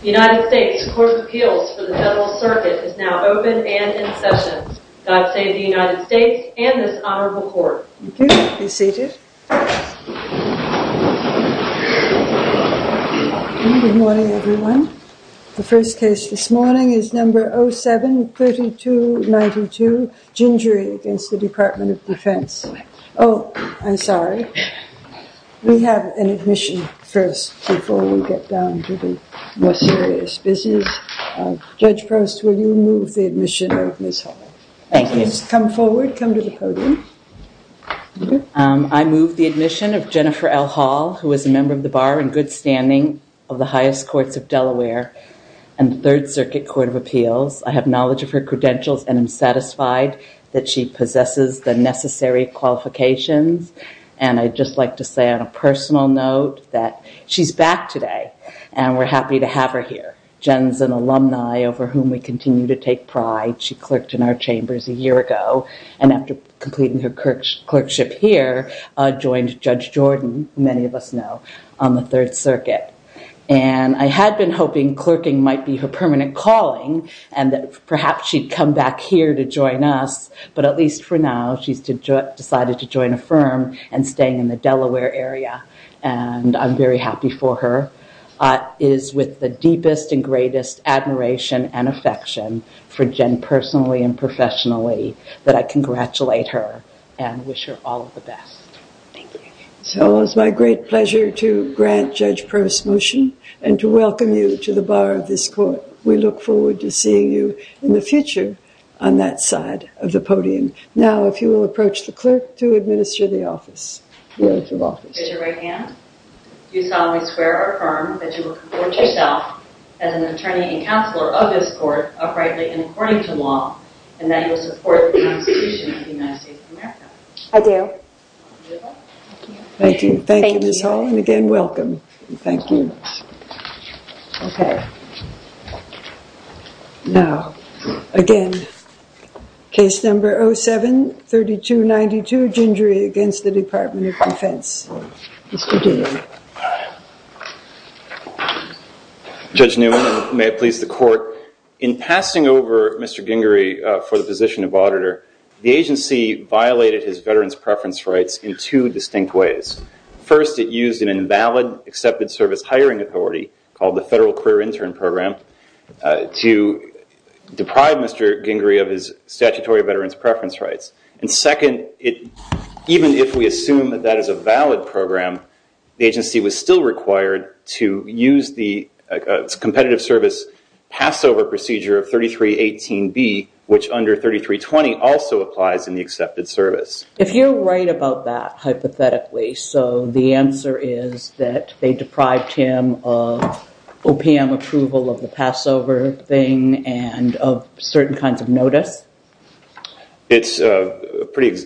The United States Court of Appeals for the Federal Circuit is now open and in session. God save the United States and this Honorable Court. Thank you. Be seated. Good morning, everyone. The first case this morning is number 07-3292, Gingery v. Department of Defense. Oh, I'm sorry. We have an admission first before we get down to the more serious business. Judge Proust, will you move the admission of Ms. Hall? Thank you. Please come forward. Come to the podium. I move the admission of Jennifer L. Hall, who is a member of the Bar in good standing of the highest courts of Delaware and the Third Circuit Court of Appeals. I have knowledge of her credentials and I'm satisfied that she possesses the necessary qualifications. And I'd just like to say on a personal note that she's back today and we're happy to have her here. Jen's an alumni over whom we continue to take pride. She clerked in our chambers a year ago and after completing her clerkship here, joined Judge Jordan, many of us know, on the Third Circuit. And I had been hoping clerking might be her permanent calling and that perhaps she'd come back here to join us. But at least for now, she's decided to join a firm and staying in the Delaware area. And I'm very happy for her. It is with the deepest and greatest admiration and affection for Jen personally and professionally that I congratulate her and wish her all the best. So it's my great pleasure to grant Judge Prost's motion and to welcome you to the bar of this court. We look forward to seeing you in the future on that side of the podium. Now, if you will approach the clerk to administer the office. With your right hand, do you solemnly swear or affirm that you will comport yourself as an attorney and counselor of this court uprightly and according to law, and that you will support the Constitution of the United States of America? I do. Thank you. Thank you, Ms. Hall. And again, welcome. Thank you. OK. Now, again, case number 07-3292, Gingery against the Department of Defense. Mr. Gingery. Judge Newman, and may it please the court, in passing over Mr. Gingery for the position of auditor, the agency violated his veterans' preference rights in two distinct ways. First, it used an invalid accepted service hiring authority called the Federal Career Intern Program to deprive Mr. Gingery of his statutory veterans' preference rights. And second, even if we assume that that is a valid program, the agency was still required to use the competitive service Passover procedure of 3318B, which under 3320 also applies in the accepted service. If you're right about that, hypothetically, so the answer is that they deprived him of OPM approval of the Passover thing and of certain kinds of notice? It's a pretty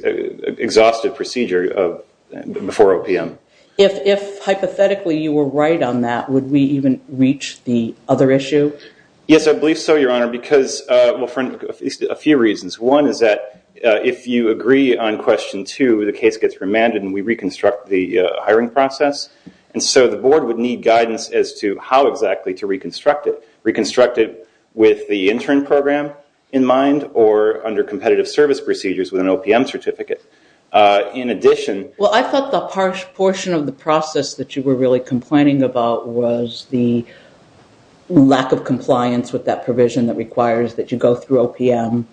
exhaustive procedure before OPM. If hypothetically you were right on that, would we even reach the other issue? Yes, I believe so, Your Honor, because, well, for a few reasons. One is that if you agree on question two, the case gets remanded and we reconstruct the hiring process. And so the board would need guidance as to how exactly to reconstruct it, with the intern program in mind or under competitive service procedures with an OPM certificate. In addition- Well, I thought the portion of the process that you were really complaining about was the lack of compliance with that provision that requires that you go through OPM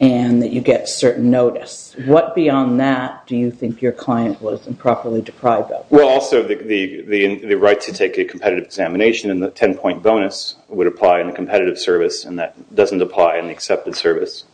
and that you get certain notice. What beyond that do you think your client was improperly deprived of? Well, also the right to take a competitive examination and the 10-point bonus would apply in the competitive service and that doesn't apply in the accepted service.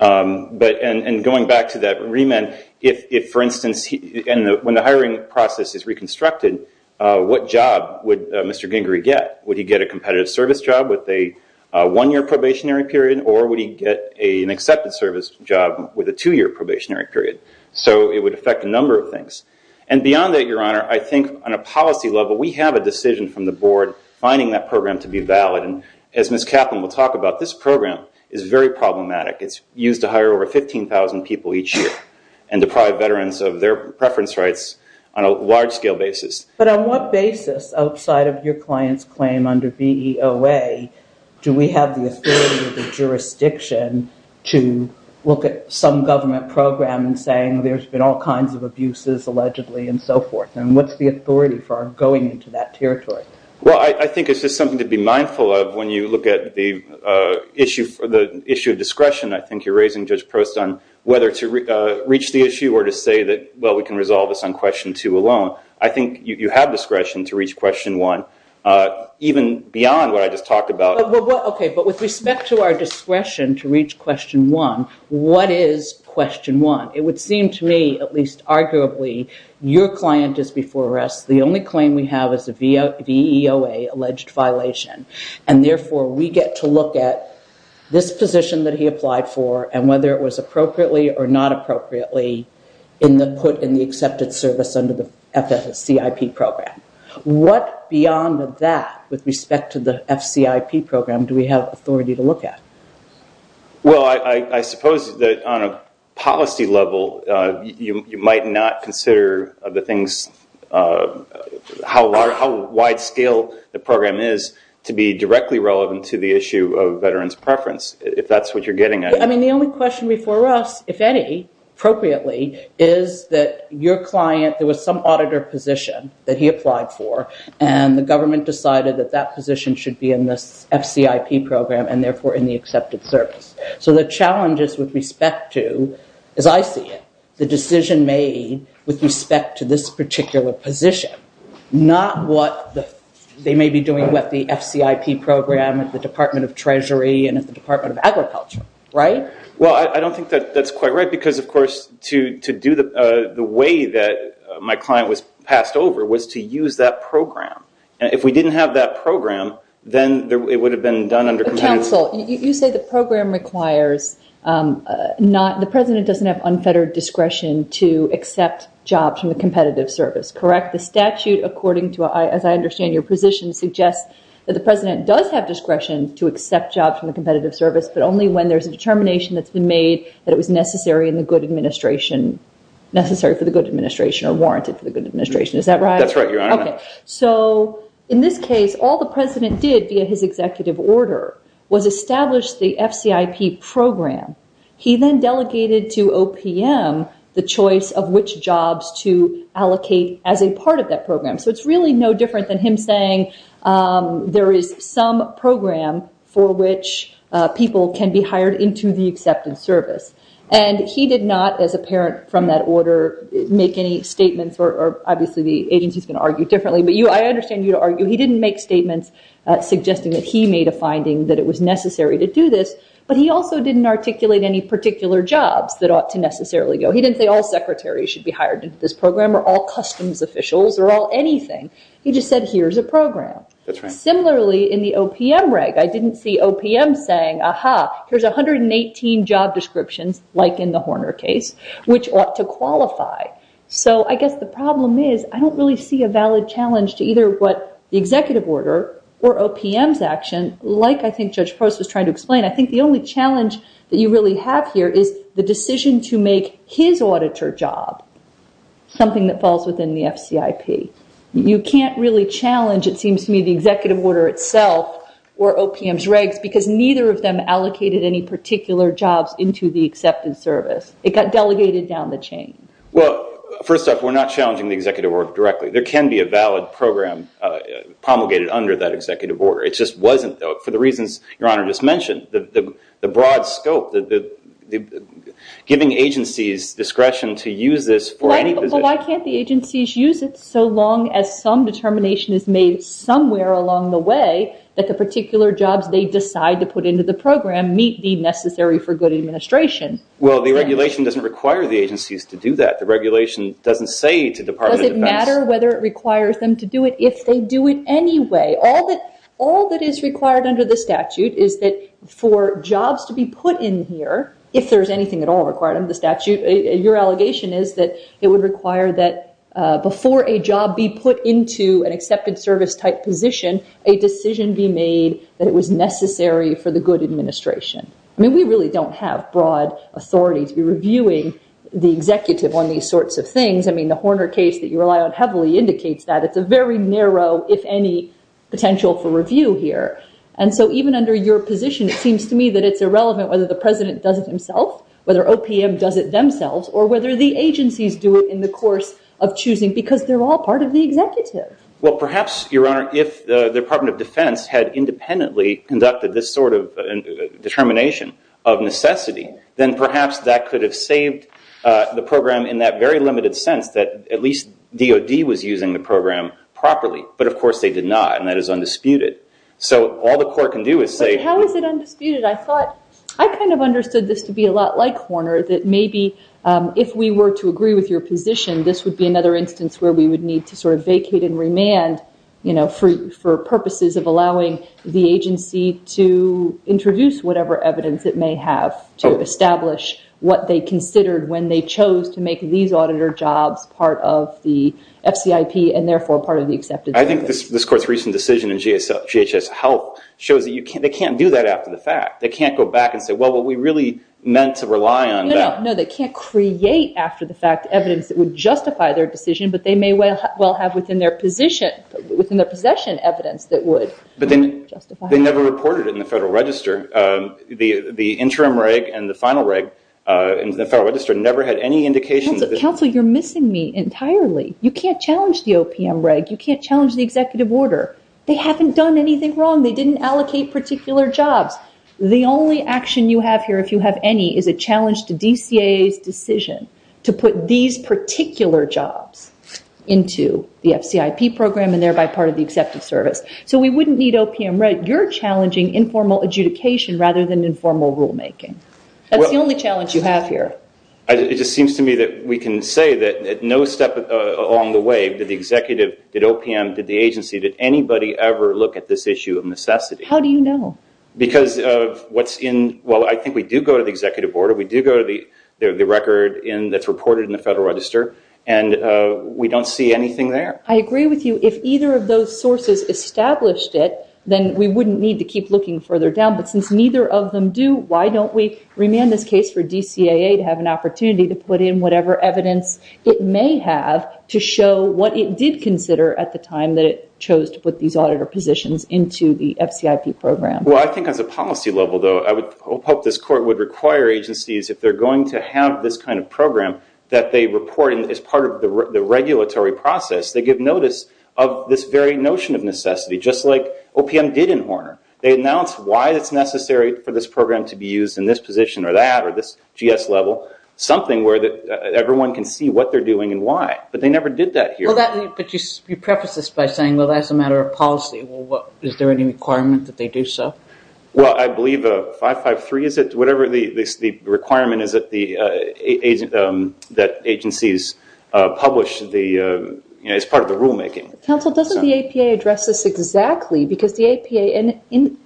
Going back to that remand, if, for instance, when the hiring process is reconstructed, what job would Mr. Gingery get? Would he get a competitive service job with a one-year probationary period or would he get an accepted service job with a two-year probationary period? So it would affect a number of things. And beyond that, Your Honor, I think on a policy level, we have a decision from the board finding that program to be valid. And as Ms. Kaplan will talk about, this program is very problematic. It's used to hire over 15,000 people each year and deprive veterans of their preference rights on a large-scale basis. But on what basis outside of your client's claim under BEOA do we have the authority or the jurisdiction to look at some government program and saying there's been all kinds of abuses allegedly and so forth? And what's the authority for going into that territory? Well, I think it's just something to be mindful of when you look at the issue of discretion. I think you're raising, Judge Prost, on whether to reach the issue or to say that, well, we can resolve this on question two alone. I think you have discretion to reach question one, even beyond what I just talked about. Okay. But with respect to our discretion to reach question one, what is question one? It would seem to me, at least arguably, your client is before us. The only claim we have is a VEOA alleged violation. And therefore, we get to look at this position that he applied for and whether it was appropriately or not appropriately put in the accepted service under the FCCIP program. What beyond that, with respect to the FCIP program, do we have authority to look at? Well, I suppose that on a policy level, you might not consider how wide scale the program is to be directly relevant to the issue of veterans' preference, if that's what you're getting at. I mean, the only question before us, if any, appropriately, is that your client, there was some auditor position that he applied for, and the government decided that that position should be in this FCIP program and therefore in the accepted service. So the challenges with respect to, as I see it, the decision made with respect to this particular position, not what they may be doing with the FCIP program at the Department of Treasury and at the Department of Agriculture, right? Well, I don't think that's quite right because, of course, to do the way that my client was passed over was to use that program. And if we didn't have that program, then it would have been done under competitive service. Counsel, you say the program requires not, the president doesn't have unfettered discretion to accept jobs from the competitive service, correct? The statute, according to, as I understand your position, suggests that the president does have discretion to accept jobs from the competitive service, but only when there's a determination that's been made that it was necessary in the good administration, necessary for the good administration or warranted for the good administration. Is that right? That's right, Your Honor. So in this case, all the president did via his executive order was establish the FCIP program. He then delegated to OPM the choice of which jobs to allocate as a part of that program. So it's really no different than him saying there is some program for which people can be hired into the accepted service. And he did not, as apparent from that order, make any statements or obviously the agency is going to argue differently. But I understand you argue he didn't make statements suggesting that he made a finding that it was necessary to do this. But he also didn't articulate any particular jobs that ought to necessarily go. He didn't say all secretaries should be hired into this program or all customs officials or all anything. He just said, here's a program. Similarly, in the OPM reg, I didn't see OPM saying, aha, here's 118 job descriptions, like in the Horner case, which ought to qualify. So I guess the problem is I don't really see a valid challenge to either what the executive order or OPM's action, like I think Judge Post was trying to explain. I think the only challenge that you really have here is the decision to make his auditor job something that falls within the FCIP. You can't really challenge, it seems to me, the executive order itself or OPM's regs, because neither of them allocated any particular jobs into the accepted service. It got delegated down the chain. Well, first off, we're not challenging the executive order directly. There can be a valid program promulgated under that executive order. It just wasn't, though, for the reasons Your Honor just mentioned, the broad scope, giving agencies discretion to use this for any position. But why can't the agencies use it so long as some determination is made somewhere along the way that the particular jobs they decide to put into the program meet the necessary for good administration? Well, the regulation doesn't require the agencies to do that. The regulation doesn't say to Department of Defense— Does it matter whether it requires them to do it if they do it anyway? All that is required under the statute is that for jobs to be put in here, if there's anything at all required under the statute, your allegation is that it would require that before a job be put into an accepted service type position, a decision be made that it was necessary for the good administration. I mean, we really don't have broad authority to be reviewing the executive on these sorts of things. I mean, the Horner case that you rely on heavily indicates that. It's a very narrow, if any, potential for review here. And so even under your position, it seems to me that it's irrelevant whether the president does it himself, whether OPM does it themselves, or whether the agencies do it in the course of choosing, because they're all part of the executive. Well, perhaps, Your Honor, if the Department of Defense had independently conducted this sort of determination of necessity, then perhaps that could have saved the program in that very limited sense that at least DOD was using the program properly. But, of course, they did not, and that is undisputed. So all the court can do is say- But how is it undisputed? I kind of understood this to be a lot like Horner, that maybe if we were to agree with your position, this would be another instance where we would need to sort of vacate and remand for purposes of allowing the agency to introduce whatever evidence it may have to establish what they considered when they chose to make these auditor jobs part of the FCIP and, therefore, part of the acceptance process. I think this court's recent decision in GHS Health shows that they can't do that after the fact. They can't go back and say, well, were we really meant to rely on that? No, no, no. They can't create after the fact evidence that would justify their decision, They never reported it in the Federal Register. The interim reg and the final reg in the Federal Register never had any indication- Counsel, you're missing me entirely. You can't challenge the OPM reg. You can't challenge the executive order. They haven't done anything wrong. They didn't allocate particular jobs. The only action you have here, if you have any, is a challenge to DCAA's decision to put these particular jobs into the FCIP program and, thereby, part of the acceptance service. So we wouldn't need OPM reg. You're challenging informal adjudication rather than informal rulemaking. That's the only challenge you have here. It just seems to me that we can say that at no step along the way did the executive, did OPM, did the agency, did anybody ever look at this issue of necessity. How do you know? Because of what's in- well, I think we do go to the executive order. We do go to the record that's reported in the Federal Register, and we don't see anything there. I agree with you. If either of those sources established it, then we wouldn't need to keep looking further down. But since neither of them do, why don't we remand this case for DCAA to have an opportunity to put in whatever evidence it may have to show what it did consider at the time that it chose to put these auditor positions into the FCIP program? Well, I think as a policy level, though, I would hope this court would require agencies, if they're going to have this kind of program that they report as part of the regulatory process, they give notice of this very notion of necessity, just like OPM did in Horner. They announced why it's necessary for this program to be used in this position or that or this GS level, something where everyone can see what they're doing and why. But they never did that here. But you preface this by saying, well, that's a matter of policy. Is there any requirement that they do so? Well, I believe 553 is it? Whatever the requirement is that agencies publish as part of the rulemaking. Counsel, doesn't the APA address this exactly? Because the APA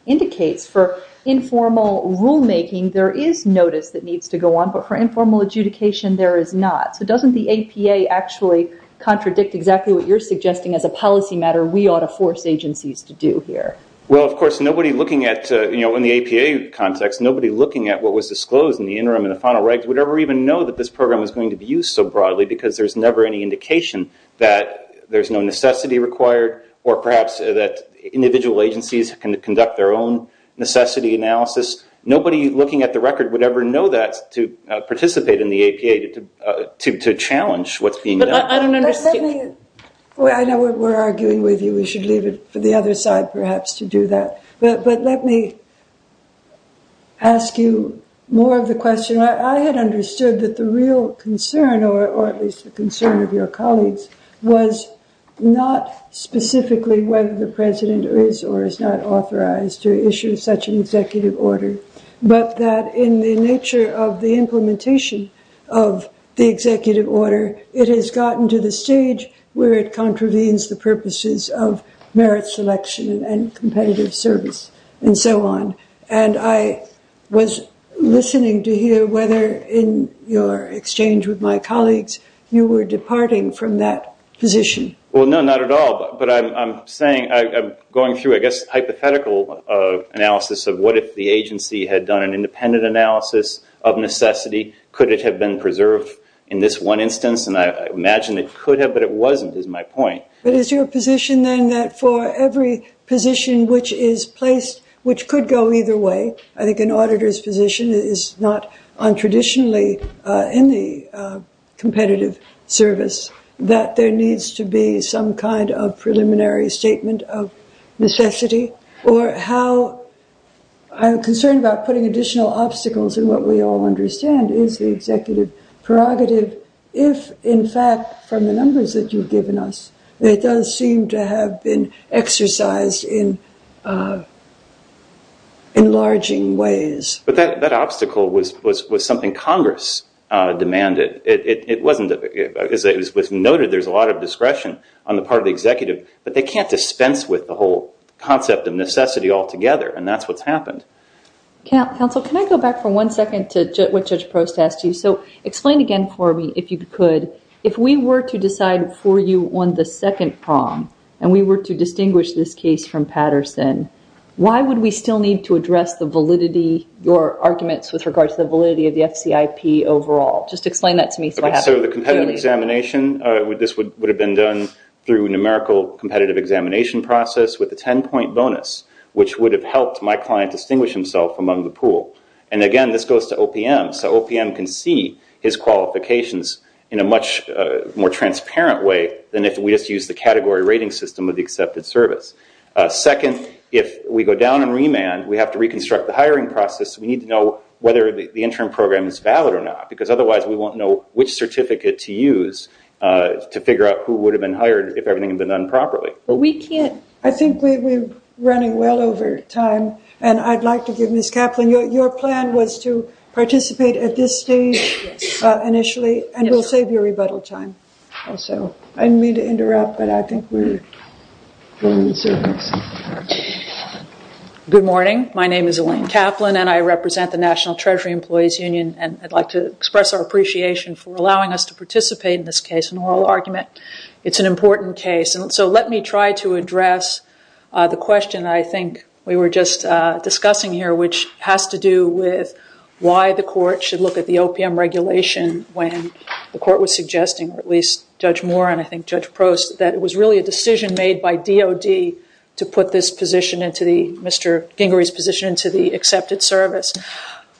indicates for informal rulemaking, there is notice that needs to go on. But for informal adjudication, there is not. So doesn't the APA actually contradict exactly what you're suggesting as a policy matter we ought to force agencies to do here? Well, of course, nobody looking at, you know, in the APA context, nobody looking at what was disclosed in the interim and the final regs would ever even know that this program was going to be used so broadly because there's never any indication that there's no necessity required or perhaps that individual agencies can conduct their own necessity analysis. Nobody looking at the record would ever know that to participate in the APA to challenge what's being done. I know we're arguing with you. We should leave it for the other side perhaps to do that. But let me ask you more of the question. I had understood that the real concern or at least the concern of your colleagues was not specifically whether the president is or is not authorized to issue such an executive order, but that in the nature of the implementation of the executive order, it has gotten to the stage where it contravenes the purposes of merit selection and competitive service and so on. And I was listening to hear whether in your exchange with my colleagues you were departing from that position. Well, no, not at all. But I'm saying I'm going through, I guess, hypothetical analysis of what if the agency had done an independent analysis of necessity, could it have been preserved in this one instance? And I imagine it could have, but it wasn't is my point. But is your position then that for every position which is placed, which could go either way, I think an auditor's position is not untraditionally in the competitive service, that there needs to be some kind of preliminary statement of necessity? Or how I'm concerned about putting additional obstacles in what we all understand is the executive prerogative if, in fact, from the numbers that you've given us, it does seem to have been exercised in enlarging ways. But that obstacle was something Congress demanded. It was noted there's a lot of discretion on the part of the executive, but they can't dispense with the whole concept of necessity altogether, and that's what's happened. Counsel, can I go back for one second to what Judge Prost asked you? So explain again for me, if you could, if we were to decide for you on the second prong, and we were to distinguish this case from Patterson, why would we still need to address the validity, your arguments with regard to the validity of the FCIP overall? Just explain that to me so I have it. So the competitive examination, this would have been done through a numerical competitive examination process with a 10-point bonus, which would have helped my client distinguish himself among the pool. And, again, this goes to OPM, so OPM can see his qualifications in a much more transparent way than if we just used the category rating system of the accepted service. Second, if we go down and remand, we have to reconstruct the hiring process. We need to know whether the interim program is valid or not, because otherwise we won't know which certificate to use to figure out who would have been hired if everything had been done properly. I think we're running well over time, and I'd like to give Ms. Kaplan, your plan was to participate at this stage initially, and we'll save you rebuttal time also. I didn't mean to interrupt, but I think we're going in circles. Good morning. My name is Elaine Kaplan, and I represent the National Treasury Employees Union, and I'd like to express our appreciation for allowing us to participate in this case, an oral argument. It's an important case, and so let me try to address the question I think we were just discussing here, which has to do with why the court should look at the OPM regulation when the court was suggesting, or at least Judge Moore and I think Judge Prost, that it was really a decision made by DOD to put Mr. Gingery's position into the accepted service.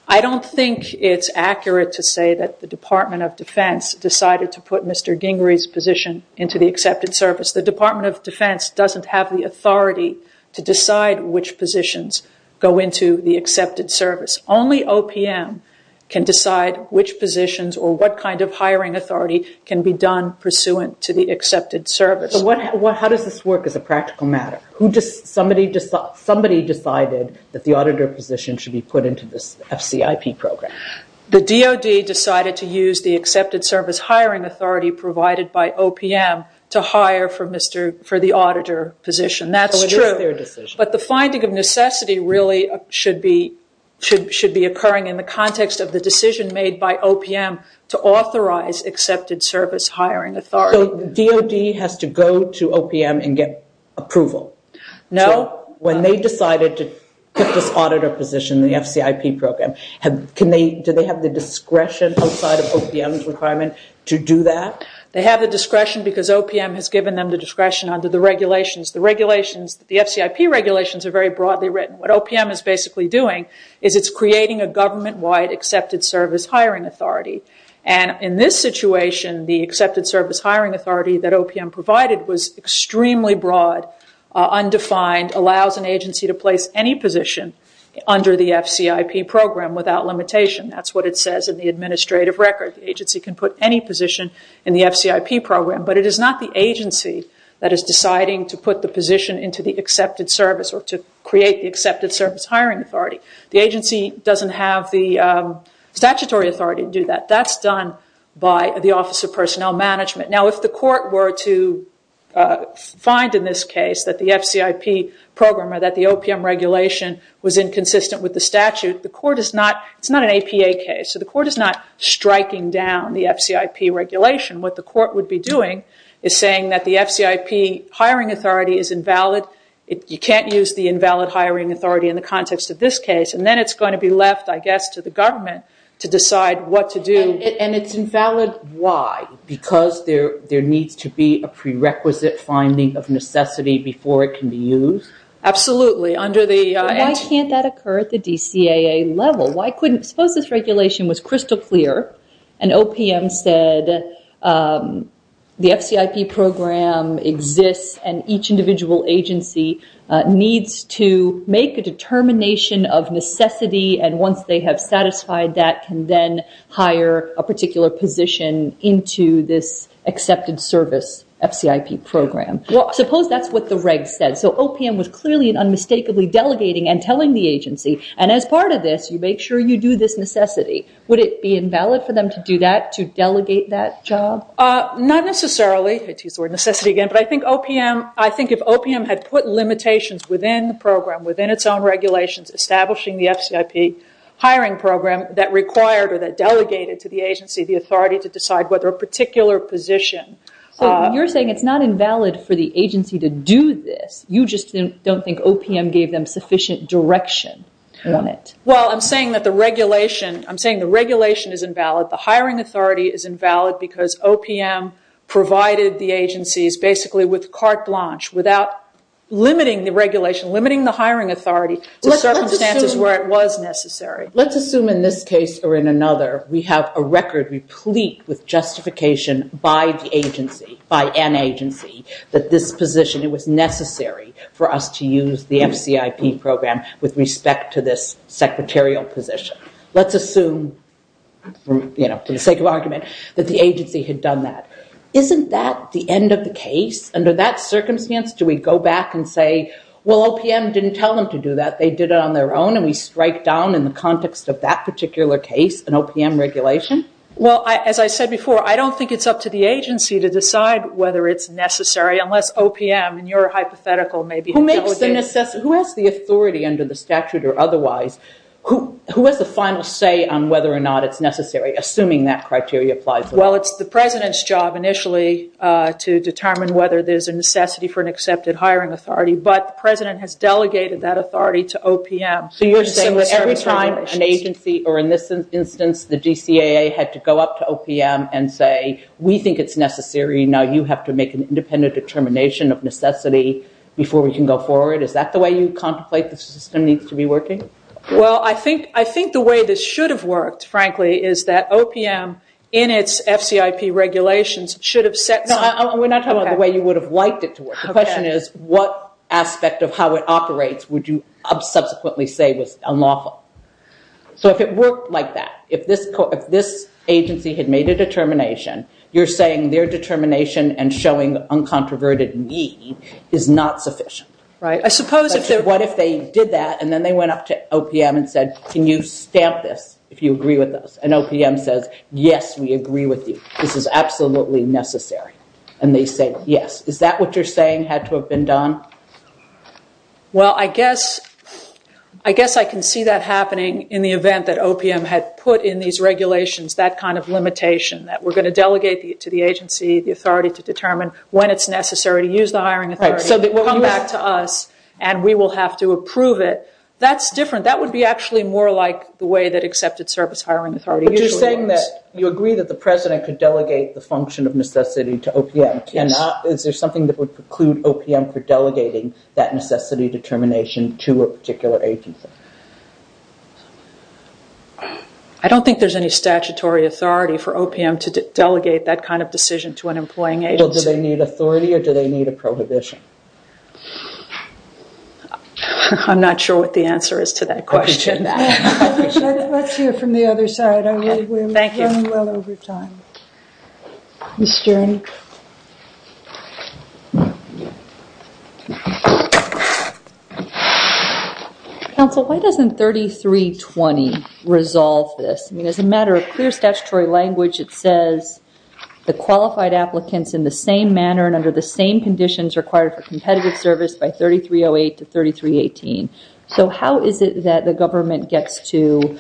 I don't think it's accurate to say that the Department of Defense decided to put Mr. Gingery's position into the accepted service. The Department of Defense doesn't have the authority to decide which positions go into the accepted service. Only OPM can decide which positions or what kind of hiring authority can be done pursuant to the accepted service. How does this work as a practical matter? Somebody decided that the auditor position should be put into this FCIP program. The DOD decided to use the accepted service hiring authority provided by OPM to hire for the auditor position. That's true. So it is their decision. But the finding of necessity really should be occurring in the context of the decision made by OPM to authorize accepted service hiring authority. So DOD has to go to OPM and get approval? No. When they decided to put this auditor position in the FCIP program, do they have the discretion outside of OPM's requirement to do that? They have the discretion because OPM has given them the discretion under the regulations. The FCIP regulations are very broadly written. What OPM is basically doing is it's creating a government-wide accepted service hiring authority. In this situation, the accepted service hiring authority that OPM provided was extremely broad, undefined, allows an agency to place any position under the FCIP program without limitation. That's what it says in the administrative record. The agency can put any position in the FCIP program. But it is not the agency that is deciding to put the position into the accepted service or to create the accepted service hiring authority. The agency doesn't have the statutory authority to do that. That's done by the Office of Personnel Management. Now, if the court were to find in this case that the FCIP program or that the OPM regulation was inconsistent with the statute, it's not an APA case. So the court is not striking down the FCIP regulation. What the court would be doing is saying that the FCIP hiring authority is invalid. You can't use the invalid hiring authority in the context of this case. And then it's going to be left, I guess, to the government to decide what to do. And it's invalid why? Because there needs to be a prerequisite finding of necessity before it can be used? Absolutely. Why can't that occur at the DCAA level? Suppose this regulation was crystal clear and OPM said the FCIP program exists and each individual agency needs to make a determination of necessity and once they have satisfied that can then hire a particular position into this accepted service FCIP program. Well, suppose that's what the reg said. So OPM was clearly and unmistakably delegating and telling the agency, and as part of this you make sure you do this necessity. Would it be invalid for them to do that, to delegate that job? Not necessarily. I used the word necessity again. But I think if OPM had put limitations within the program, within its own regulations establishing the FCIP hiring program that required or that delegated to the agency the authority to decide whether a particular position... So you're saying it's not invalid for the agency to do this. You just don't think OPM gave them sufficient direction on it? Well, I'm saying that the regulation is invalid. The hiring authority is invalid because OPM provided the agencies basically with carte blanche without limiting the regulation, limiting the hiring authority to circumstances where it was necessary. Let's assume in this case or in another we have a record replete with justification by the agency, by an agency that this position was necessary for us to use the FCIP program with respect to this secretarial position. Let's assume for the sake of argument that the agency had done that. Isn't that the end of the case? Under that circumstance do we go back and say, well, OPM didn't tell them to do that. They did it on their own and we strike down in the context of that particular case an OPM regulation? Well, as I said before, I don't think it's up to the agency to decide whether it's necessary unless OPM and your hypothetical may be delegated. Who has the authority under the statute or otherwise? Who has the final say on whether or not it's necessary assuming that criteria applies? Well, it's the President's job initially to determine whether there's a necessity for an accepted hiring authority, but the President has delegated that authority to OPM. So you're saying that every time an agency or in this instance the DCAA had to go up to OPM and say, we think it's necessary, now you have to make an independent determination of necessity before we can go forward? Is that the way you contemplate the system needs to be working? Well, I think the way this should have worked, frankly, is that OPM in its FCIP regulations should have set some – No, we're not talking about the way you would have liked it to work. The question is, what aspect of how it operates would you subsequently say was unlawful? So if it worked like that, if this agency had made a determination, you're saying their determination and showing uncontroverted need is not sufficient. I suppose if they – What if they did that and then they went up to OPM and said, can you stamp this if you agree with us? And OPM says, yes, we agree with you. This is absolutely necessary. And they say, yes. Is that what you're saying had to have been done? Well, I guess I can see that happening in the event that OPM had put in these regulations that kind of limitation that we're going to delegate to the agency the authority to determine when it's necessary to use the hiring authority. So they will come back to us and we will have to approve it. That's different. You're saying that you agree that the president could delegate the function of necessity to OPM. Is there something that would preclude OPM for delegating that necessity determination to a particular agency? I don't think there's any statutory authority for OPM to delegate that kind of decision to an employing agency. Well, do they need authority or do they need a prohibition? I'm not sure what the answer is to that question. Let's hear from the other side. We're running well over time. Counsel, why doesn't 3320 resolve this? I mean, as a matter of clear statutory language, it says the qualified applicants in the same manner and under the same conditions required for competitive service by 3308 to 3318. So how is it that the government gets to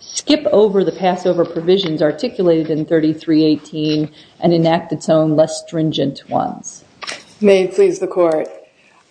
skip over the Passover provisions articulated in 3318 and enact its own less stringent ones? May it please the Court.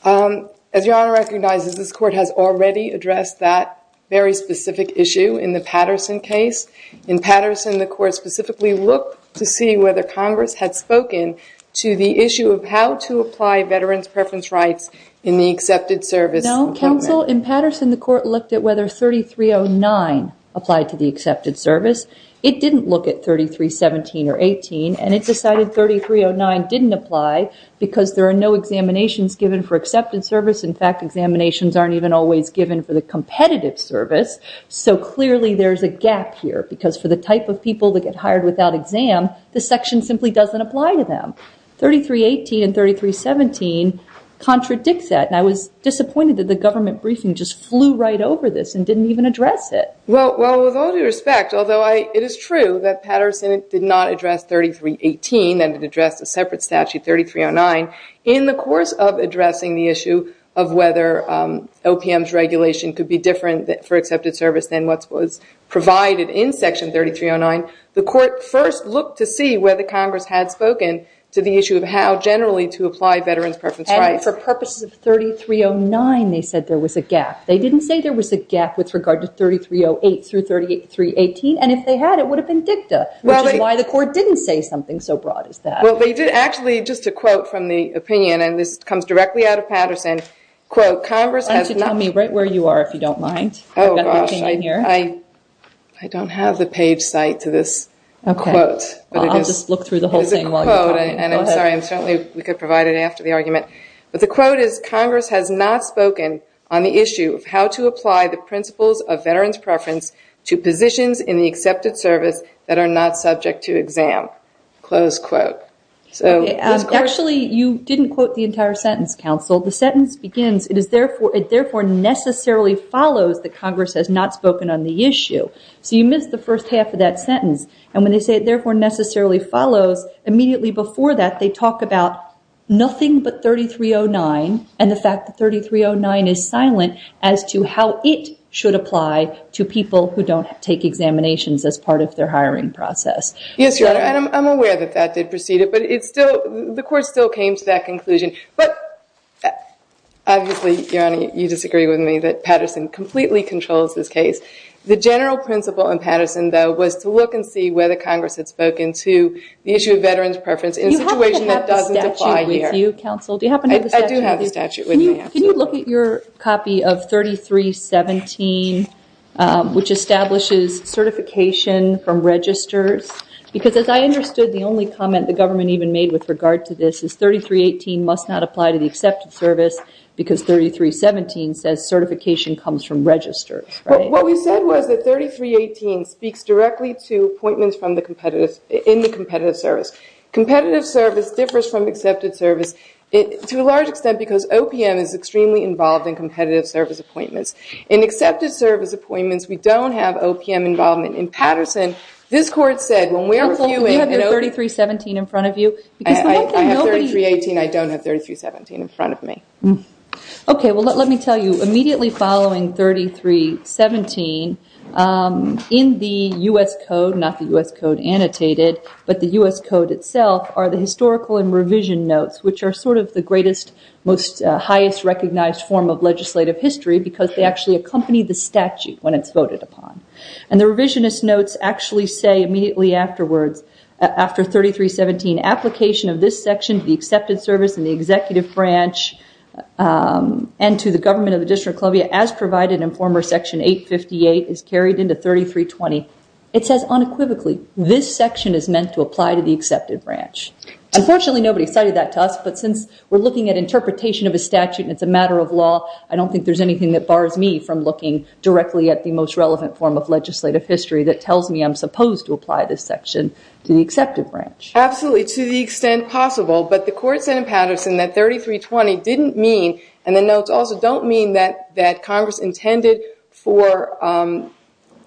As Your Honor recognizes, this Court has already addressed that very specific issue in the Patterson case. In Patterson, the Court specifically looked to see whether Congress had spoken to the issue of how to apply veterans' preference rights in the accepted service. No, Counsel. In Patterson, the Court looked at whether 3309 applied to the accepted service. It didn't look at 3317 or 18, and it decided 3309 didn't apply because there are no examinations given for accepted service. In fact, examinations aren't even always given for the competitive service. So clearly there's a gap here because for the type of people that get hired without exam, the section simply doesn't apply to them. 3318 and 3317 contradicts that. And I was disappointed that the government briefing just flew right over this and didn't even address it. Well, with all due respect, although it is true that Patterson did not address 3318 and addressed a separate statute, 3309, in the course of addressing the issue of whether OPM's regulation could be different for accepted service than what was provided in Section 3309, the Court first looked to see whether Congress had spoken to the issue of how generally to apply veterans' preference rights. For purposes of 3309, they said there was a gap. They didn't say there was a gap with regard to 3308 through 3318. And if they had, it would have been dicta, which is why the Court didn't say something so broad as that. Actually, just a quote from the opinion, and this comes directly out of Patterson. Why don't you tell me right where you are, if you don't mind? I don't have the page site to this quote. I'll just look through the whole thing while you're talking. I'm sorry. We could provide it after the argument. But the quote is, Congress has not spoken on the issue of how to apply the principles of veterans' preference to positions in the accepted service that are not subject to exam. Close quote. Actually, you didn't quote the entire sentence, counsel. The sentence begins, it therefore necessarily follows that Congress has not spoken on the issue. So you missed the first half of that sentence. And when they say it therefore necessarily follows, immediately before that they talk about nothing but 3309 and the fact that 3309 is silent as to how it should apply to people who don't take examinations as part of their hiring process. Yes, Your Honor, and I'm aware that that did proceed it, but the Court still came to that conclusion. But obviously, Your Honor, you disagree with me that Patterson completely controls this case. The general principle in Patterson, though, was to look and see whether Congress had spoken to the issue of veterans' preference in a situation that doesn't apply here. Do you happen to have the statute with you, counsel? I do have the statute with me, absolutely. Can you look at your copy of 3317, which establishes certification from registers? Because as I understood, the only comment the government even made with regard to this is 3318 must not apply to the accepted service because 3317 says certification comes from registers, right? And what we said was that 3318 speaks directly to appointments in the competitive service. Competitive service differs from accepted service to a large extent because OPM is extremely involved in competitive service appointments. In accepted service appointments, we don't have OPM involvement. In Patterson, this Court said, when we're reviewing... Counsel, do you have your 3317 in front of you? I have 3318. I don't have 3317 in front of me. Okay, well, let me tell you, immediately following 3317, in the U.S. Code, not the U.S. Code annotated, but the U.S. Code itself are the historical and revision notes, which are sort of the greatest, most highest recognized form of legislative history because they actually accompany the statute when it's voted upon. And the revisionist notes actually say immediately afterwards, after 3317, application of this section to the accepted service and the executive branch and to the government of the District of Columbia, as provided in former section 858, is carried into 3320. It says unequivocally, this section is meant to apply to the accepted branch. Unfortunately, nobody cited that to us, but since we're looking at interpretation of a statute and it's a matter of law, I don't think there's anything that bars me from looking directly at the most relevant form of legislative history that tells me I'm supposed to apply this section to the accepted branch. Absolutely, to the extent possible, but the court said in Patterson that 3320 didn't mean, and the notes also don't mean that Congress intended for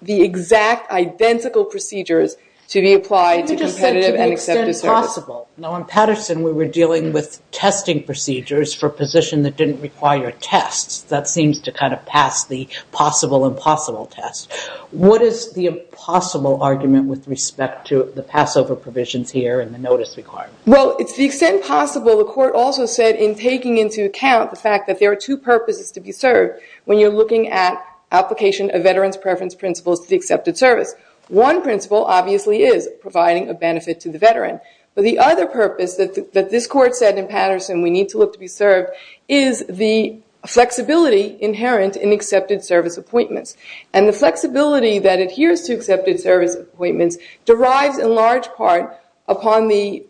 the exact identical procedures to be applied to competitive and accepted service. You just said to the extent possible. Now, in Patterson, we were dealing with testing procedures for a position that didn't require tests. That seems to kind of pass the possible and possible test. What is the possible argument with respect to the Passover provisions here and the notice requirement? Well, to the extent possible, the court also said in taking into account the fact that there are two purposes to be served when you're looking at application of veterans' preference principles to the accepted service. One principle obviously is providing a benefit to the veteran, but the other purpose that this court said in Patterson we need to look to be served is the flexibility inherent in accepted service appointments. And the flexibility that adheres to accepted service appointments derives in large part upon the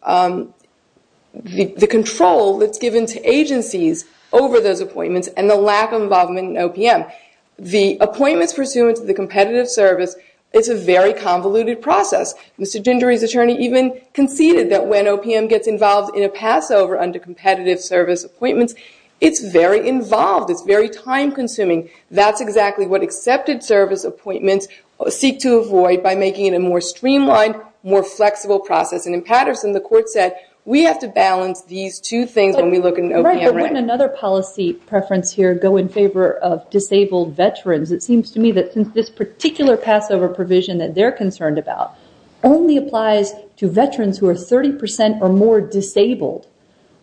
control that's given to agencies over those appointments and the lack of involvement in OPM. The appointments pursuant to the competitive service, it's a very convoluted process. Mr. Dindery's attorney even conceded that when OPM gets involved in a Passover under competitive service appointments, it's very involved. It's very time-consuming. That's exactly what accepted service appointments seek to avoid by making it a more streamlined, more flexible process. And in Patterson, the court said we have to balance these two things when we look at OPM. But wouldn't another policy preference here go in favor of disabled veterans? It seems to me that since this particular Passover provision that they're concerned about only applies to veterans who are 30% or more disabled.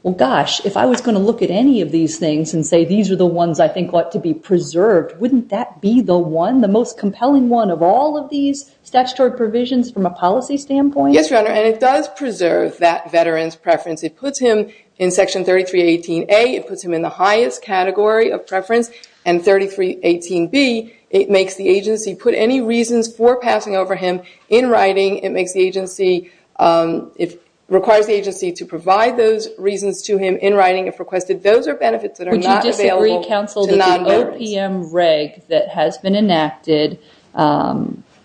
Well, gosh, if I was going to look at any of these things and say these are the ones I think ought to be preserved, wouldn't that be the one, the most compelling one of all of these statutory provisions from a policy standpoint? Yes, Your Honor, and it does preserve that veteran's preference. It puts him in Section 3318A. It puts him in the highest category of preference. And 3318B, it makes the agency put any reasons for passing over him in writing. It makes the agency, it requires the agency to provide those reasons to him in writing if requested. Those are benefits that are not available to non-veterans. Would you disagree, Counsel, that the OPM reg that has been enacted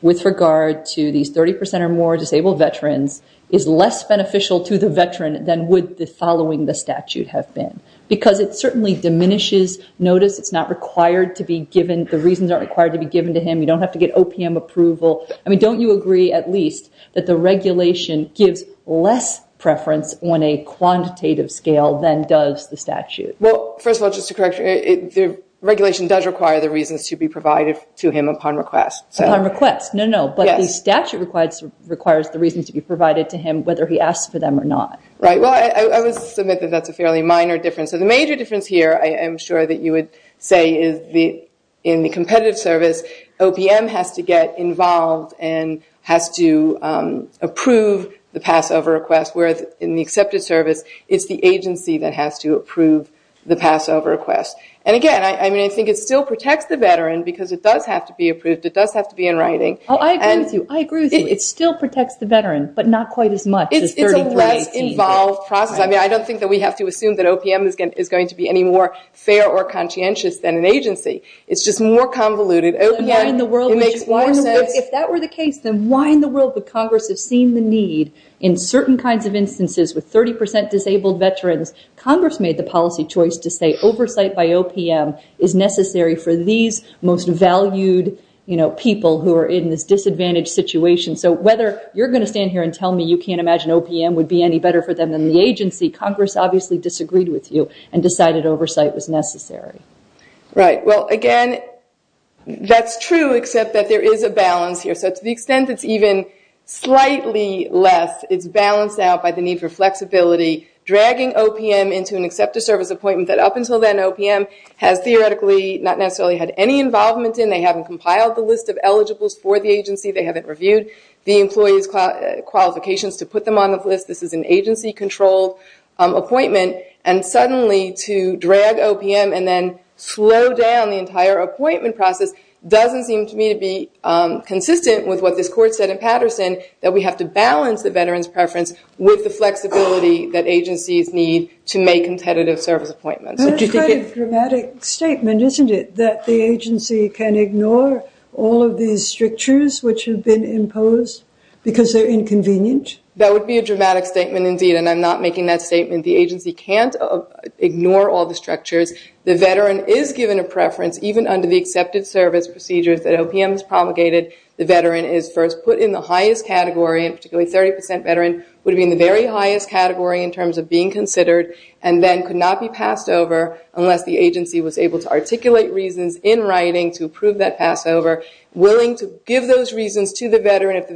with regard to these 30% or more disabled veterans is less beneficial to the veteran than would the following the statute have been? Because it certainly diminishes notice. It's not required to be given. The reasons aren't required to be given to him. You don't have to get OPM approval. I mean, don't you agree at least that the regulation gives less preference on a quantitative scale than does the statute? Well, first of all, just to correct you, the regulation does require the reasons to be provided to him upon request. Upon request. No, no, but the statute requires the reasons to be provided to him whether he asks for them or not. Right. Well, I would submit that that's a fairly minor difference. So the major difference here I am sure that you would say is in the competitive service, OPM has to get involved and has to approve the pass over request whereas in the accepted service, it's the agency that has to approve the pass over request. And again, I mean, I think it still protects the veteran because it does have to be approved. It does have to be in writing. Oh, I agree with you. I agree with you. It still protects the veteran but not quite as much as 3318. It's a less involved process. I mean, I don't think that we have to assume that OPM is going to be any more fair or conscientious than an agency. It's just more convoluted. If that were the case, then why in the world would Congress have seen the need in certain kinds of instances with 30% disabled veterans, Congress made the policy choice to say oversight by OPM is necessary for these most valued people who are in this disadvantaged situation. So whether you're going to stand here and tell me you can't imagine OPM would be any better for them than the agency, Congress obviously disagreed with you and decided oversight was necessary. Right. Well, again, that's true except that there is a balance here. So to the extent it's even slightly less, it's balanced out by the need for flexibility, dragging OPM into an accepted service appointment that up until then OPM has theoretically not necessarily had any involvement in. They haven't compiled the list of eligibles for the agency. They haven't reviewed the employee's qualifications to put them on the list. This is an agency-controlled appointment. And suddenly to drag OPM and then slow down the entire appointment process doesn't seem to me to be consistent with what this court said in Patterson, that we have to balance the veteran's preference with the flexibility that agencies need to make competitive service appointments. That's quite a dramatic statement, isn't it, that the agency can ignore all of these strictures which have been imposed because they're inconvenient? That would be a dramatic statement indeed, and I'm not making that statement. The agency can't ignore all the structures. The veteran is given a preference even under the accepted service procedures that OPM has promulgated. The veteran is first put in the highest category, and particularly 30% veteran would be in the very highest category in terms of being considered, and then could not be passed over unless the agency was able to articulate reasons in writing to approve that pass over, willing to give those reasons to the veteran. It's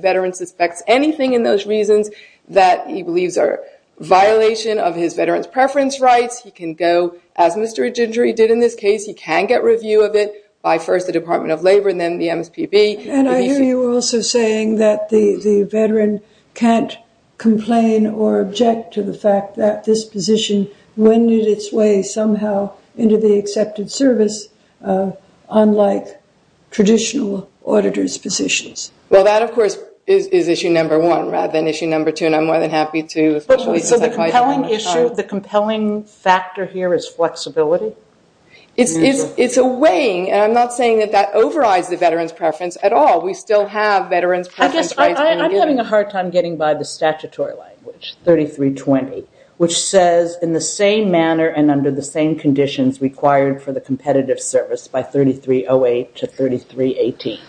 a violation of his veteran's preference rights. He can go, as Mr. Egindri did in this case, he can get review of it by first the Department of Labor and then the MSPB. And I hear you also saying that the veteran can't complain or object to the fact that this position winded its way somehow into the accepted service, unlike traditional auditor's positions. Well, that, of course, is issue number one rather than issue number two, and I'm more than happy to, especially since I probably don't have much time. So the compelling issue, the compelling factor here is flexibility? It's a weighing, and I'm not saying that that overrides the veteran's preference at all. We still have veteran's preference rights being given. I guess I'm having a hard time getting by the statutory language, 3320, which says in the same manner and under the same conditions required for the competitive service by 3308 to 3318.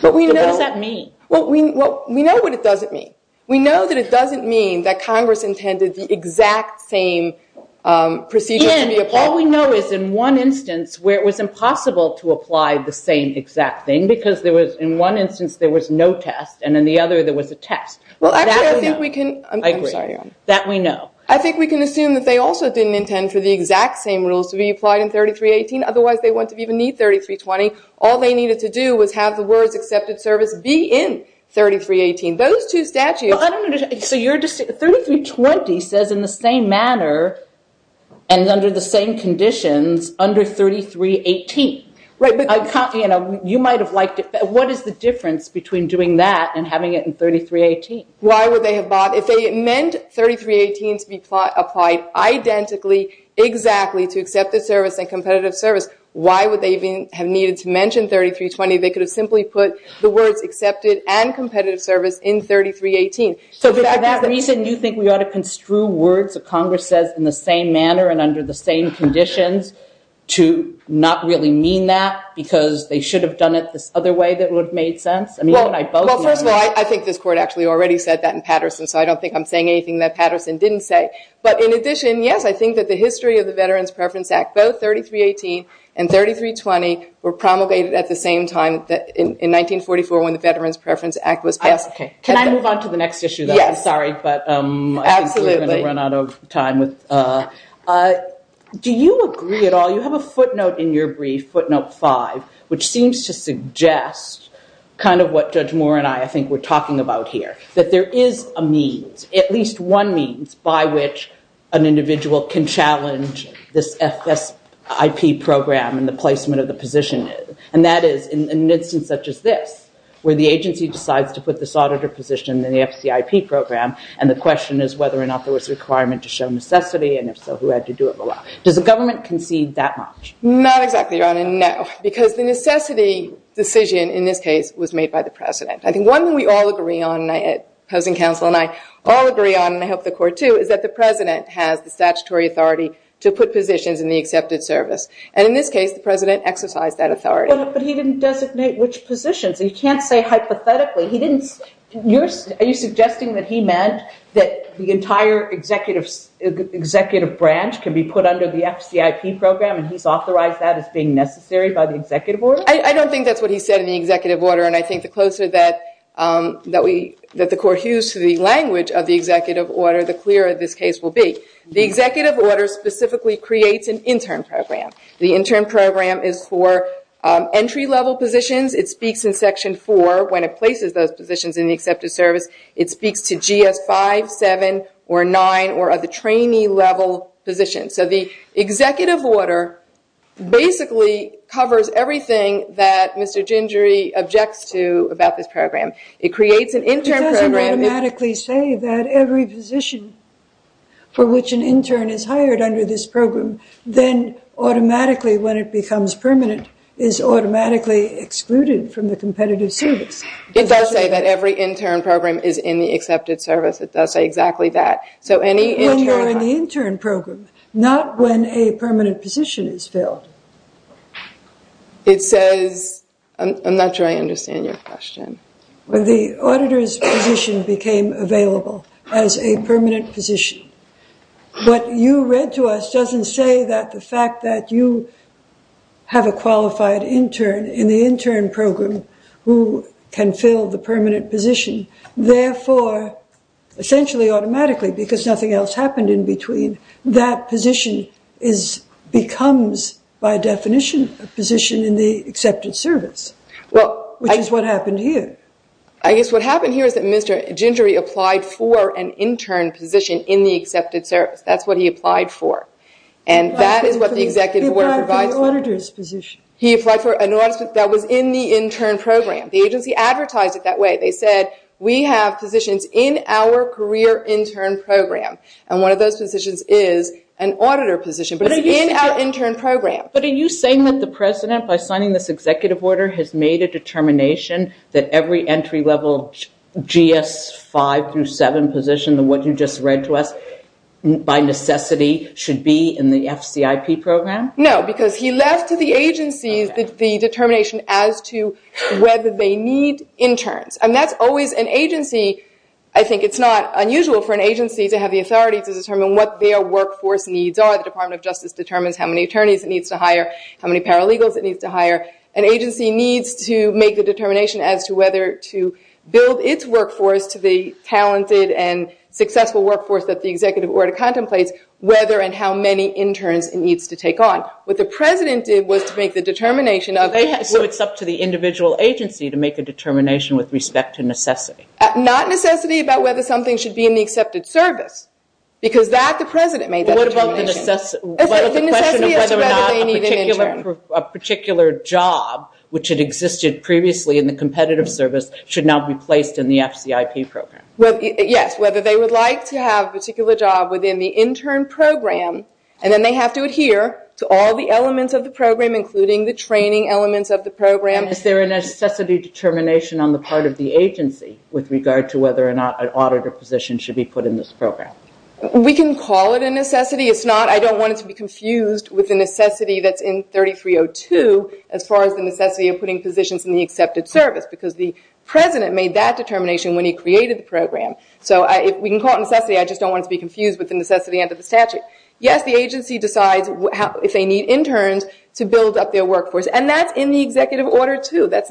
What does that mean? Well, we know what it doesn't mean. We know that it doesn't mean that Congress intended the exact same procedures to be applied. And all we know is in one instance where it was impossible to apply the same exact thing because in one instance there was no test and in the other there was a test. Well, I think we can assume that they also didn't intend for the exact same rules to be applied in 3318. Otherwise, they wouldn't even need 3320. All they needed to do was have the words accepted service be in 3318. Those two statutes. Well, I don't understand. 3320 says in the same manner and under the same conditions under 3318. You might have liked it. What is the difference between doing that and having it in 3318? Why would they have bought it? If they meant 3318 to be applied identically exactly to accepted service and competitive service, why would they have needed to mention 3320? They could have simply put the words accepted and competitive service in 3318. So for that reason, you think we ought to construe words that Congress says in the same manner and under the same conditions to not really mean that because they should have done it this other way that would have made sense? Well, first of all, I think this Court actually already said that in Patterson, so I don't think I'm saying anything that Patterson didn't say. But in addition, yes, I think that the history of the Veterans Preference Act, both 3318 and 3320 were promulgated at the same time in 1944 when the Veterans Preference Act was passed. Can I move on to the next issue, though? I'm sorry, but I think we're going to run out of time. Do you agree at all? You have a footnote in your brief, footnote five, which seems to suggest kind of what Judge Moore and I, I think, were talking about here, that there is a means, at least one means, by which an individual can challenge this FSIP program and the placement of the position. And that is in an instance such as this, where the agency decides to put this auditor position in the FCIP program and the question is whether or not there was a requirement to show necessity and, if so, who had to do it. Does the government concede that much? Not exactly, Your Honor, no, because the necessity decision in this case was made by the President. I think one thing we all agree on, and I hope the Court, too, is that the President has the statutory authority to put positions in the accepted service. And in this case, the President exercised that authority. But he didn't designate which positions. He can't say hypothetically. Are you suggesting that he meant that the entire executive branch can be put under the FCIP program and he's authorized that as being necessary by the executive order? I don't think that's what he said in the executive order, and I think the closer that the Court hews to the language of the executive order, the clearer this case will be. The executive order specifically creates an intern program. The intern program is for entry-level positions. It speaks in Section 4 when it places those positions in the accepted service. It speaks to GS-5, 7, or 9 or other trainee-level positions. So the executive order basically covers everything that Mr. Gingery objects to about this program. It creates an intern program. It doesn't automatically say that every position for which an intern is hired under this program, then automatically, when it becomes permanent, is automatically excluded from the competitive service. It does say that every intern program is in the accepted service. It does say exactly that. When you're in the intern program, not when a permanent position is filled. It says... I'm not sure I understand your question. When the auditor's position became available as a permanent position, what you read to us doesn't say that the fact that you have a qualified intern in the intern program who can fill the permanent position, therefore, essentially automatically, because nothing else happened in between, that position becomes, by definition, a position in the accepted service, which is what happened here. I guess what happened here is that Mr. Gingery applied for an intern position in the accepted service. That's what he applied for. And that is what the executive order provides. He applied for an auditor's position. He applied for an auditor's position. That was in the intern program. The agency advertised it that way. They said, we have positions in our career intern program. And one of those positions is an auditor position, but it's in our intern program. But are you saying that the president, by signing this executive order, has made a determination that every entry-level GS 5 through 7 position, what you just read to us, by necessity should be in the FCIP program? No, because he left to the agencies the determination as to whether they need interns. And that's always an agency... I think it's not unusual for an agency to have the authority to determine what their workforce needs are. The Department of Justice determines how many attorneys it needs to hire, how many paralegals it needs to hire. An agency needs to make the determination as to whether to build its workforce to the talented and successful workforce that the executive order contemplates, whether and how many interns it needs to take on. What the president did was to make the determination of... So it's up to the individual agency to make a determination with respect to necessity. Not necessity about whether something should be in the accepted service, because that the president made that determination. What about the necessity of whether or not a particular job, which had existed previously in the competitive service, should now be placed in the FCIP program? Yes, whether they would like to have a particular job within the intern program, and then they have to adhere to all the elements of the program, including the training elements of the program. Is there a necessity determination on the part of the agency with regard to whether or not an auditor position should be put in this program? We can call it a necessity. I don't want it to be confused with the necessity that's in 3302 as far as the necessity of putting positions in the accepted service, because the president made that determination when he created the program. So we can call it necessity. I just don't want it to be confused with the necessity under the statute. Yes, the agency decides if they need interns to build up their workforce, and that's in the executive order, too. That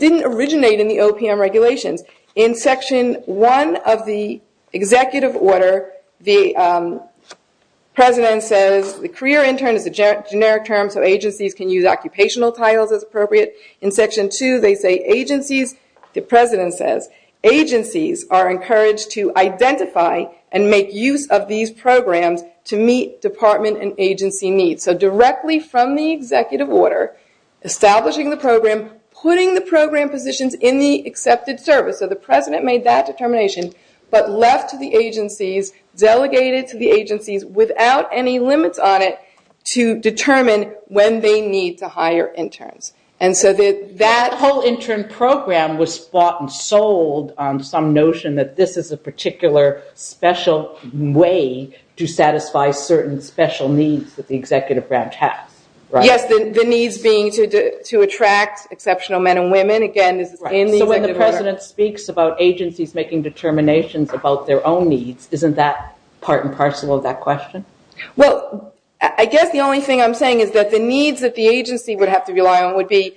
didn't originate in the OPM regulations. In Section 1 of the executive order, the president says the career intern is a generic term, so agencies can use occupational titles as appropriate. In Section 2, they say agencies. The president says agencies are encouraged to identify and make use of these programs to meet department and agency needs. So directly from the executive order, establishing the program, putting the program positions in the accepted service. So the president made that determination, but left to the agencies, delegated to the agencies without any limits on it, to determine when they need to hire interns. And so that whole intern program was bought and sold on some notion that this is a particular special way to satisfy certain special needs that the executive branch has. Yes, the needs being to attract exceptional men and women. So when the president speaks about agencies making determinations about their own needs, isn't that part and parcel of that question? Well, I guess the only thing I'm saying is that the needs that the agency would have to rely on would be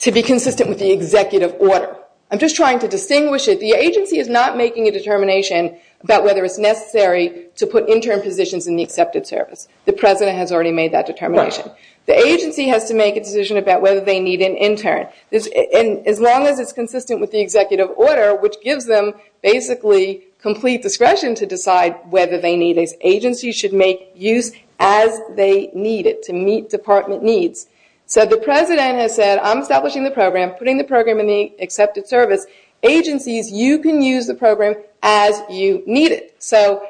to be consistent with the executive order. I'm just trying to distinguish it. The agency is not making a determination about whether it's necessary to put intern positions in the accepted service. The president has already made that determination. The agency has to make a decision about whether they need an intern. As long as it's consistent with the executive order, which gives them basically complete discretion to decide whether they need it. Agencies should make use as they need it to meet department needs. So the president has said, I'm establishing the program, putting the program in the accepted service. Agencies, you can use the program as you need it. So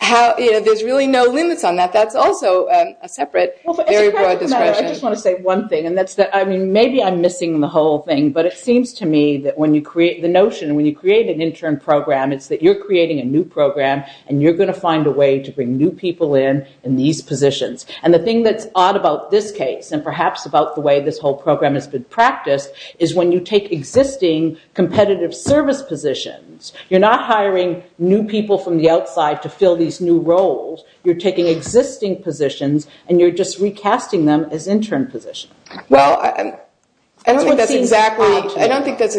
there's really no limits on that. That's also a separate, very broad discretion. I just want to say one thing, and that's that maybe I'm missing the whole thing, but it seems to me that when you create the notion, when you create an intern program, it's that you're creating a new program and you're going to find a way to bring new people in in these positions. And the thing that's odd about this case, and perhaps about the way this whole program has been practiced, is when you take existing competitive service positions, you're not hiring new people from the outside to fill these new roles. You're taking existing positions, and you're just recasting them as intern positions. Well, I don't think that's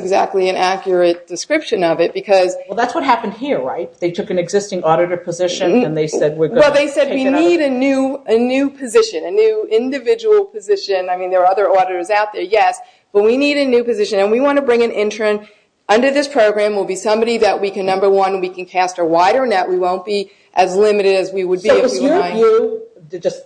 exactly an accurate description of it. Well, that's what happened here, right? They took an existing auditor position, and they said we're going to take it out. Well, they said we need a new position, a new individual position. I mean, there are other auditors out there, yes. But we need a new position, and we want to bring an intern. Under this program, we'll be somebody that, number one, we can cast a wider net. We won't be as limited as we would be if we were hiring.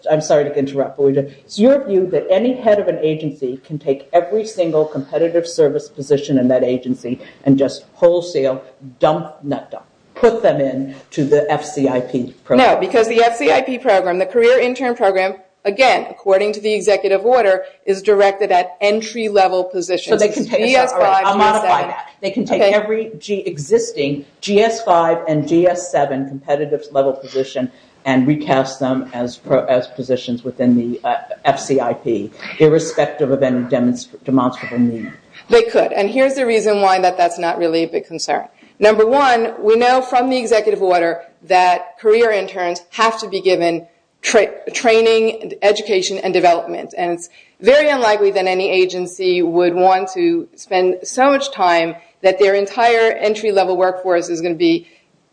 I'm sorry to interrupt, but it's your view that any head of an agency can take every single competitive service position in that agency and just wholesale dump, nut dump, put them in to the FCIP program? No, because the FCIP program, the Career Intern Program, again, according to the executive order, is directed at entry-level positions. I'll modify that. They can take every existing GS-5 and GS-7 competitive level position and recast them as positions within the FCIP, irrespective of any demonstrable need. They could, and here's the reason why that that's not really a big concern. Number one, we know from the executive order that career interns have to be given training, education, and development, and it's very unlikely that any agency would want to spend so much time that their entire entry-level workforce is going to be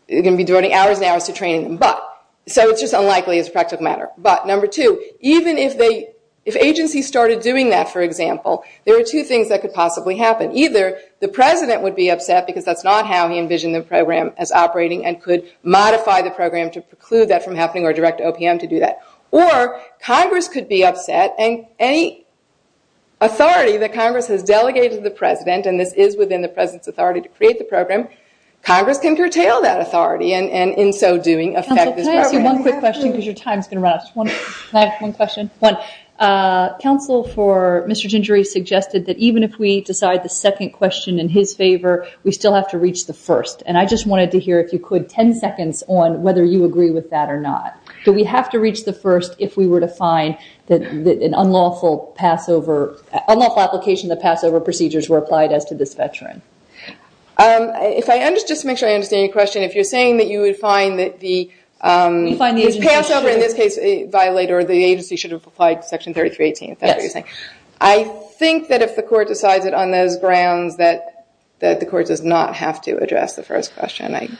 devoting hours and hours to training. But, so it's just unlikely as a practical matter. But, number two, even if agencies started doing that, for example, there are two things that could possibly happen. Either the president would be upset because that's not how he envisioned the program as operating and could modify the program to preclude that from happening or direct OPM to do that. Or, Congress could be upset and any authority that Congress has delegated to the president, and this is within the president's authority to create the program, Congress can curtail that authority and in so doing affect this program. Counsel, can I ask you one quick question because your time is going to run out? Can I ask one question? One. Counsel for Mr. Gingery suggested that even if we decide the second question in his favor, we still have to reach the first. And I just wanted to hear, if you could, ten seconds on whether you agree with that or not. Do we have to reach the first if we were to find that an unlawful application of the Passover procedures were applied as to this veteran? Just to make sure I understand your question, if you're saying that you would find that the Passover, in this case, violate or the agency should have applied Section 3318, if that's what you're saying. I think that if the court decides it on those grounds, that the court does not have to address the first question,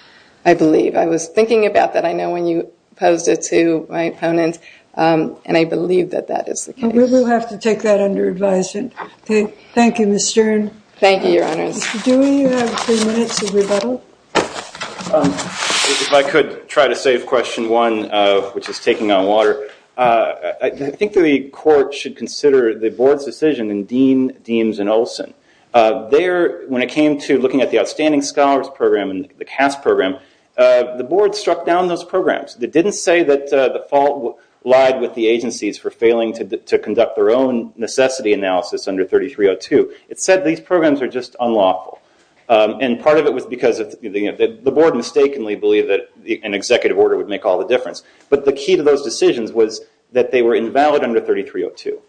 I believe. I was thinking about that, I know, when you posed it to my opponent, and I believe that that is the case. We will have to take that under advisement. Okay. Thank you, Ms. Stern. Thank you, Your Honors. Mr. Dewey, you have three minutes of rebuttal. If I could try to save question one, which is taking on water. I think the court should consider the board's decision in Dean, Deems, and Olson. When it came to looking at the Outstanding Scholars Program and the CAS program, the board struck down those programs. It didn't say that the fault lied with the agencies for failing to conduct their own necessity analysis under 3302. It said these programs are just unlawful. Part of it was because the board mistakenly believed that an executive order would make all the difference. The key to those decisions was that they were invalid under 3302.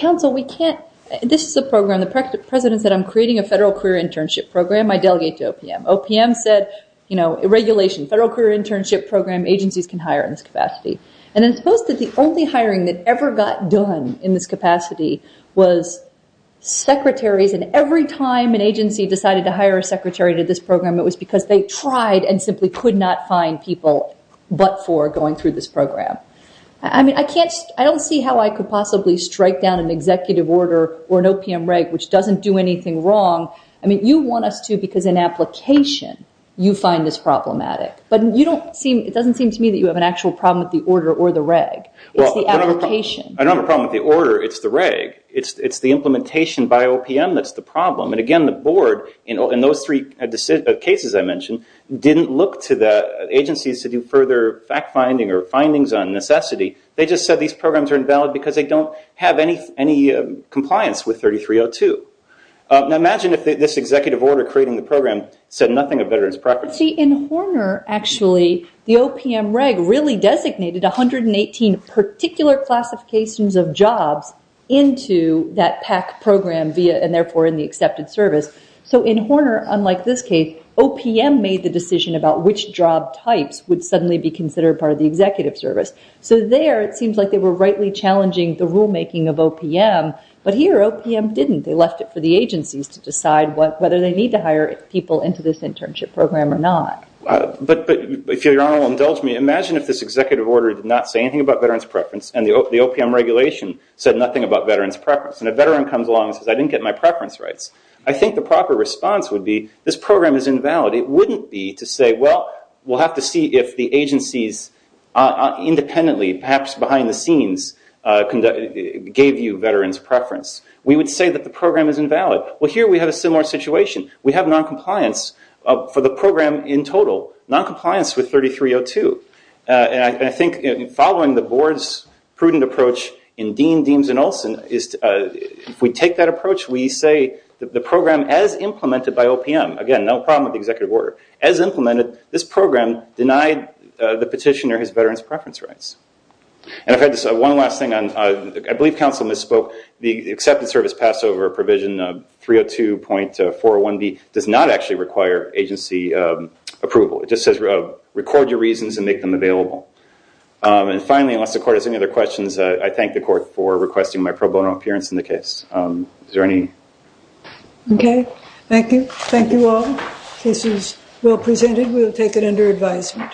Counsel, this is a program. The president said, I'm creating a federal career internship program. I delegate to OPM. OPM said, regulation, federal career internship program, agencies can hire in this capacity. And suppose that the only hiring that ever got done in this capacity was secretaries, and every time an agency decided to hire a secretary to this program, it was because they tried and simply could not find people but for going through this program. I don't see how I could possibly strike down an executive order or an OPM reg which doesn't do anything wrong. You want us to because in application, you find this problematic. But it doesn't seem to me that you have an actual problem with the order or the reg. It's the application. I don't have a problem with the order. It's the reg. It's the implementation by OPM that's the problem. And again, the board, in those three cases I mentioned, didn't look to the agencies to do further fact-finding or findings on necessity. They just said these programs are invalid because they don't have any compliance with 3302. Now, imagine if this executive order creating the program said nothing of veterans' property. See, in Horner, actually, the OPM reg really designated 118 particular classifications of jobs into that PAC program and therefore in the accepted service. So in Horner, unlike this case, OPM made the decision about which job types would suddenly be considered part of the executive service. So there, it seems like they were rightly challenging the rulemaking of OPM. But here, OPM didn't. They left it for the agencies to decide whether they need to hire people into this internship program or not. But if Your Honor will indulge me, imagine if this executive order did not say anything about veterans' preference and the OPM regulation said nothing about veterans' preference and a veteran comes along and says, I didn't get my preference rights. I think the proper response would be, this program is invalid. It wouldn't be to say, well, we'll have to see if the agencies independently, perhaps behind the scenes, gave you veterans' preference. We would say that the program is invalid. Well, here we have a similar situation. We have noncompliance for the program in total, noncompliance with 3302. And I think following the board's prudent approach in Dean, Deems, and Olson, if we take that approach, we say the program as implemented by OPM, again, no problem with the executive order, as implemented, this program denied the petitioner his veterans' preference rights. And if I had to say one last thing, I believe counsel misspoke. The accepted service pass over provision 302.401B does not actually require agency approval. It just says record your reasons and make them available. And finally, unless the court has any other questions, I thank the court for requesting my pro bono appearance in the case. Is there any? Okay. Thank you. Thank you all. This is well presented. We will take it under advisement.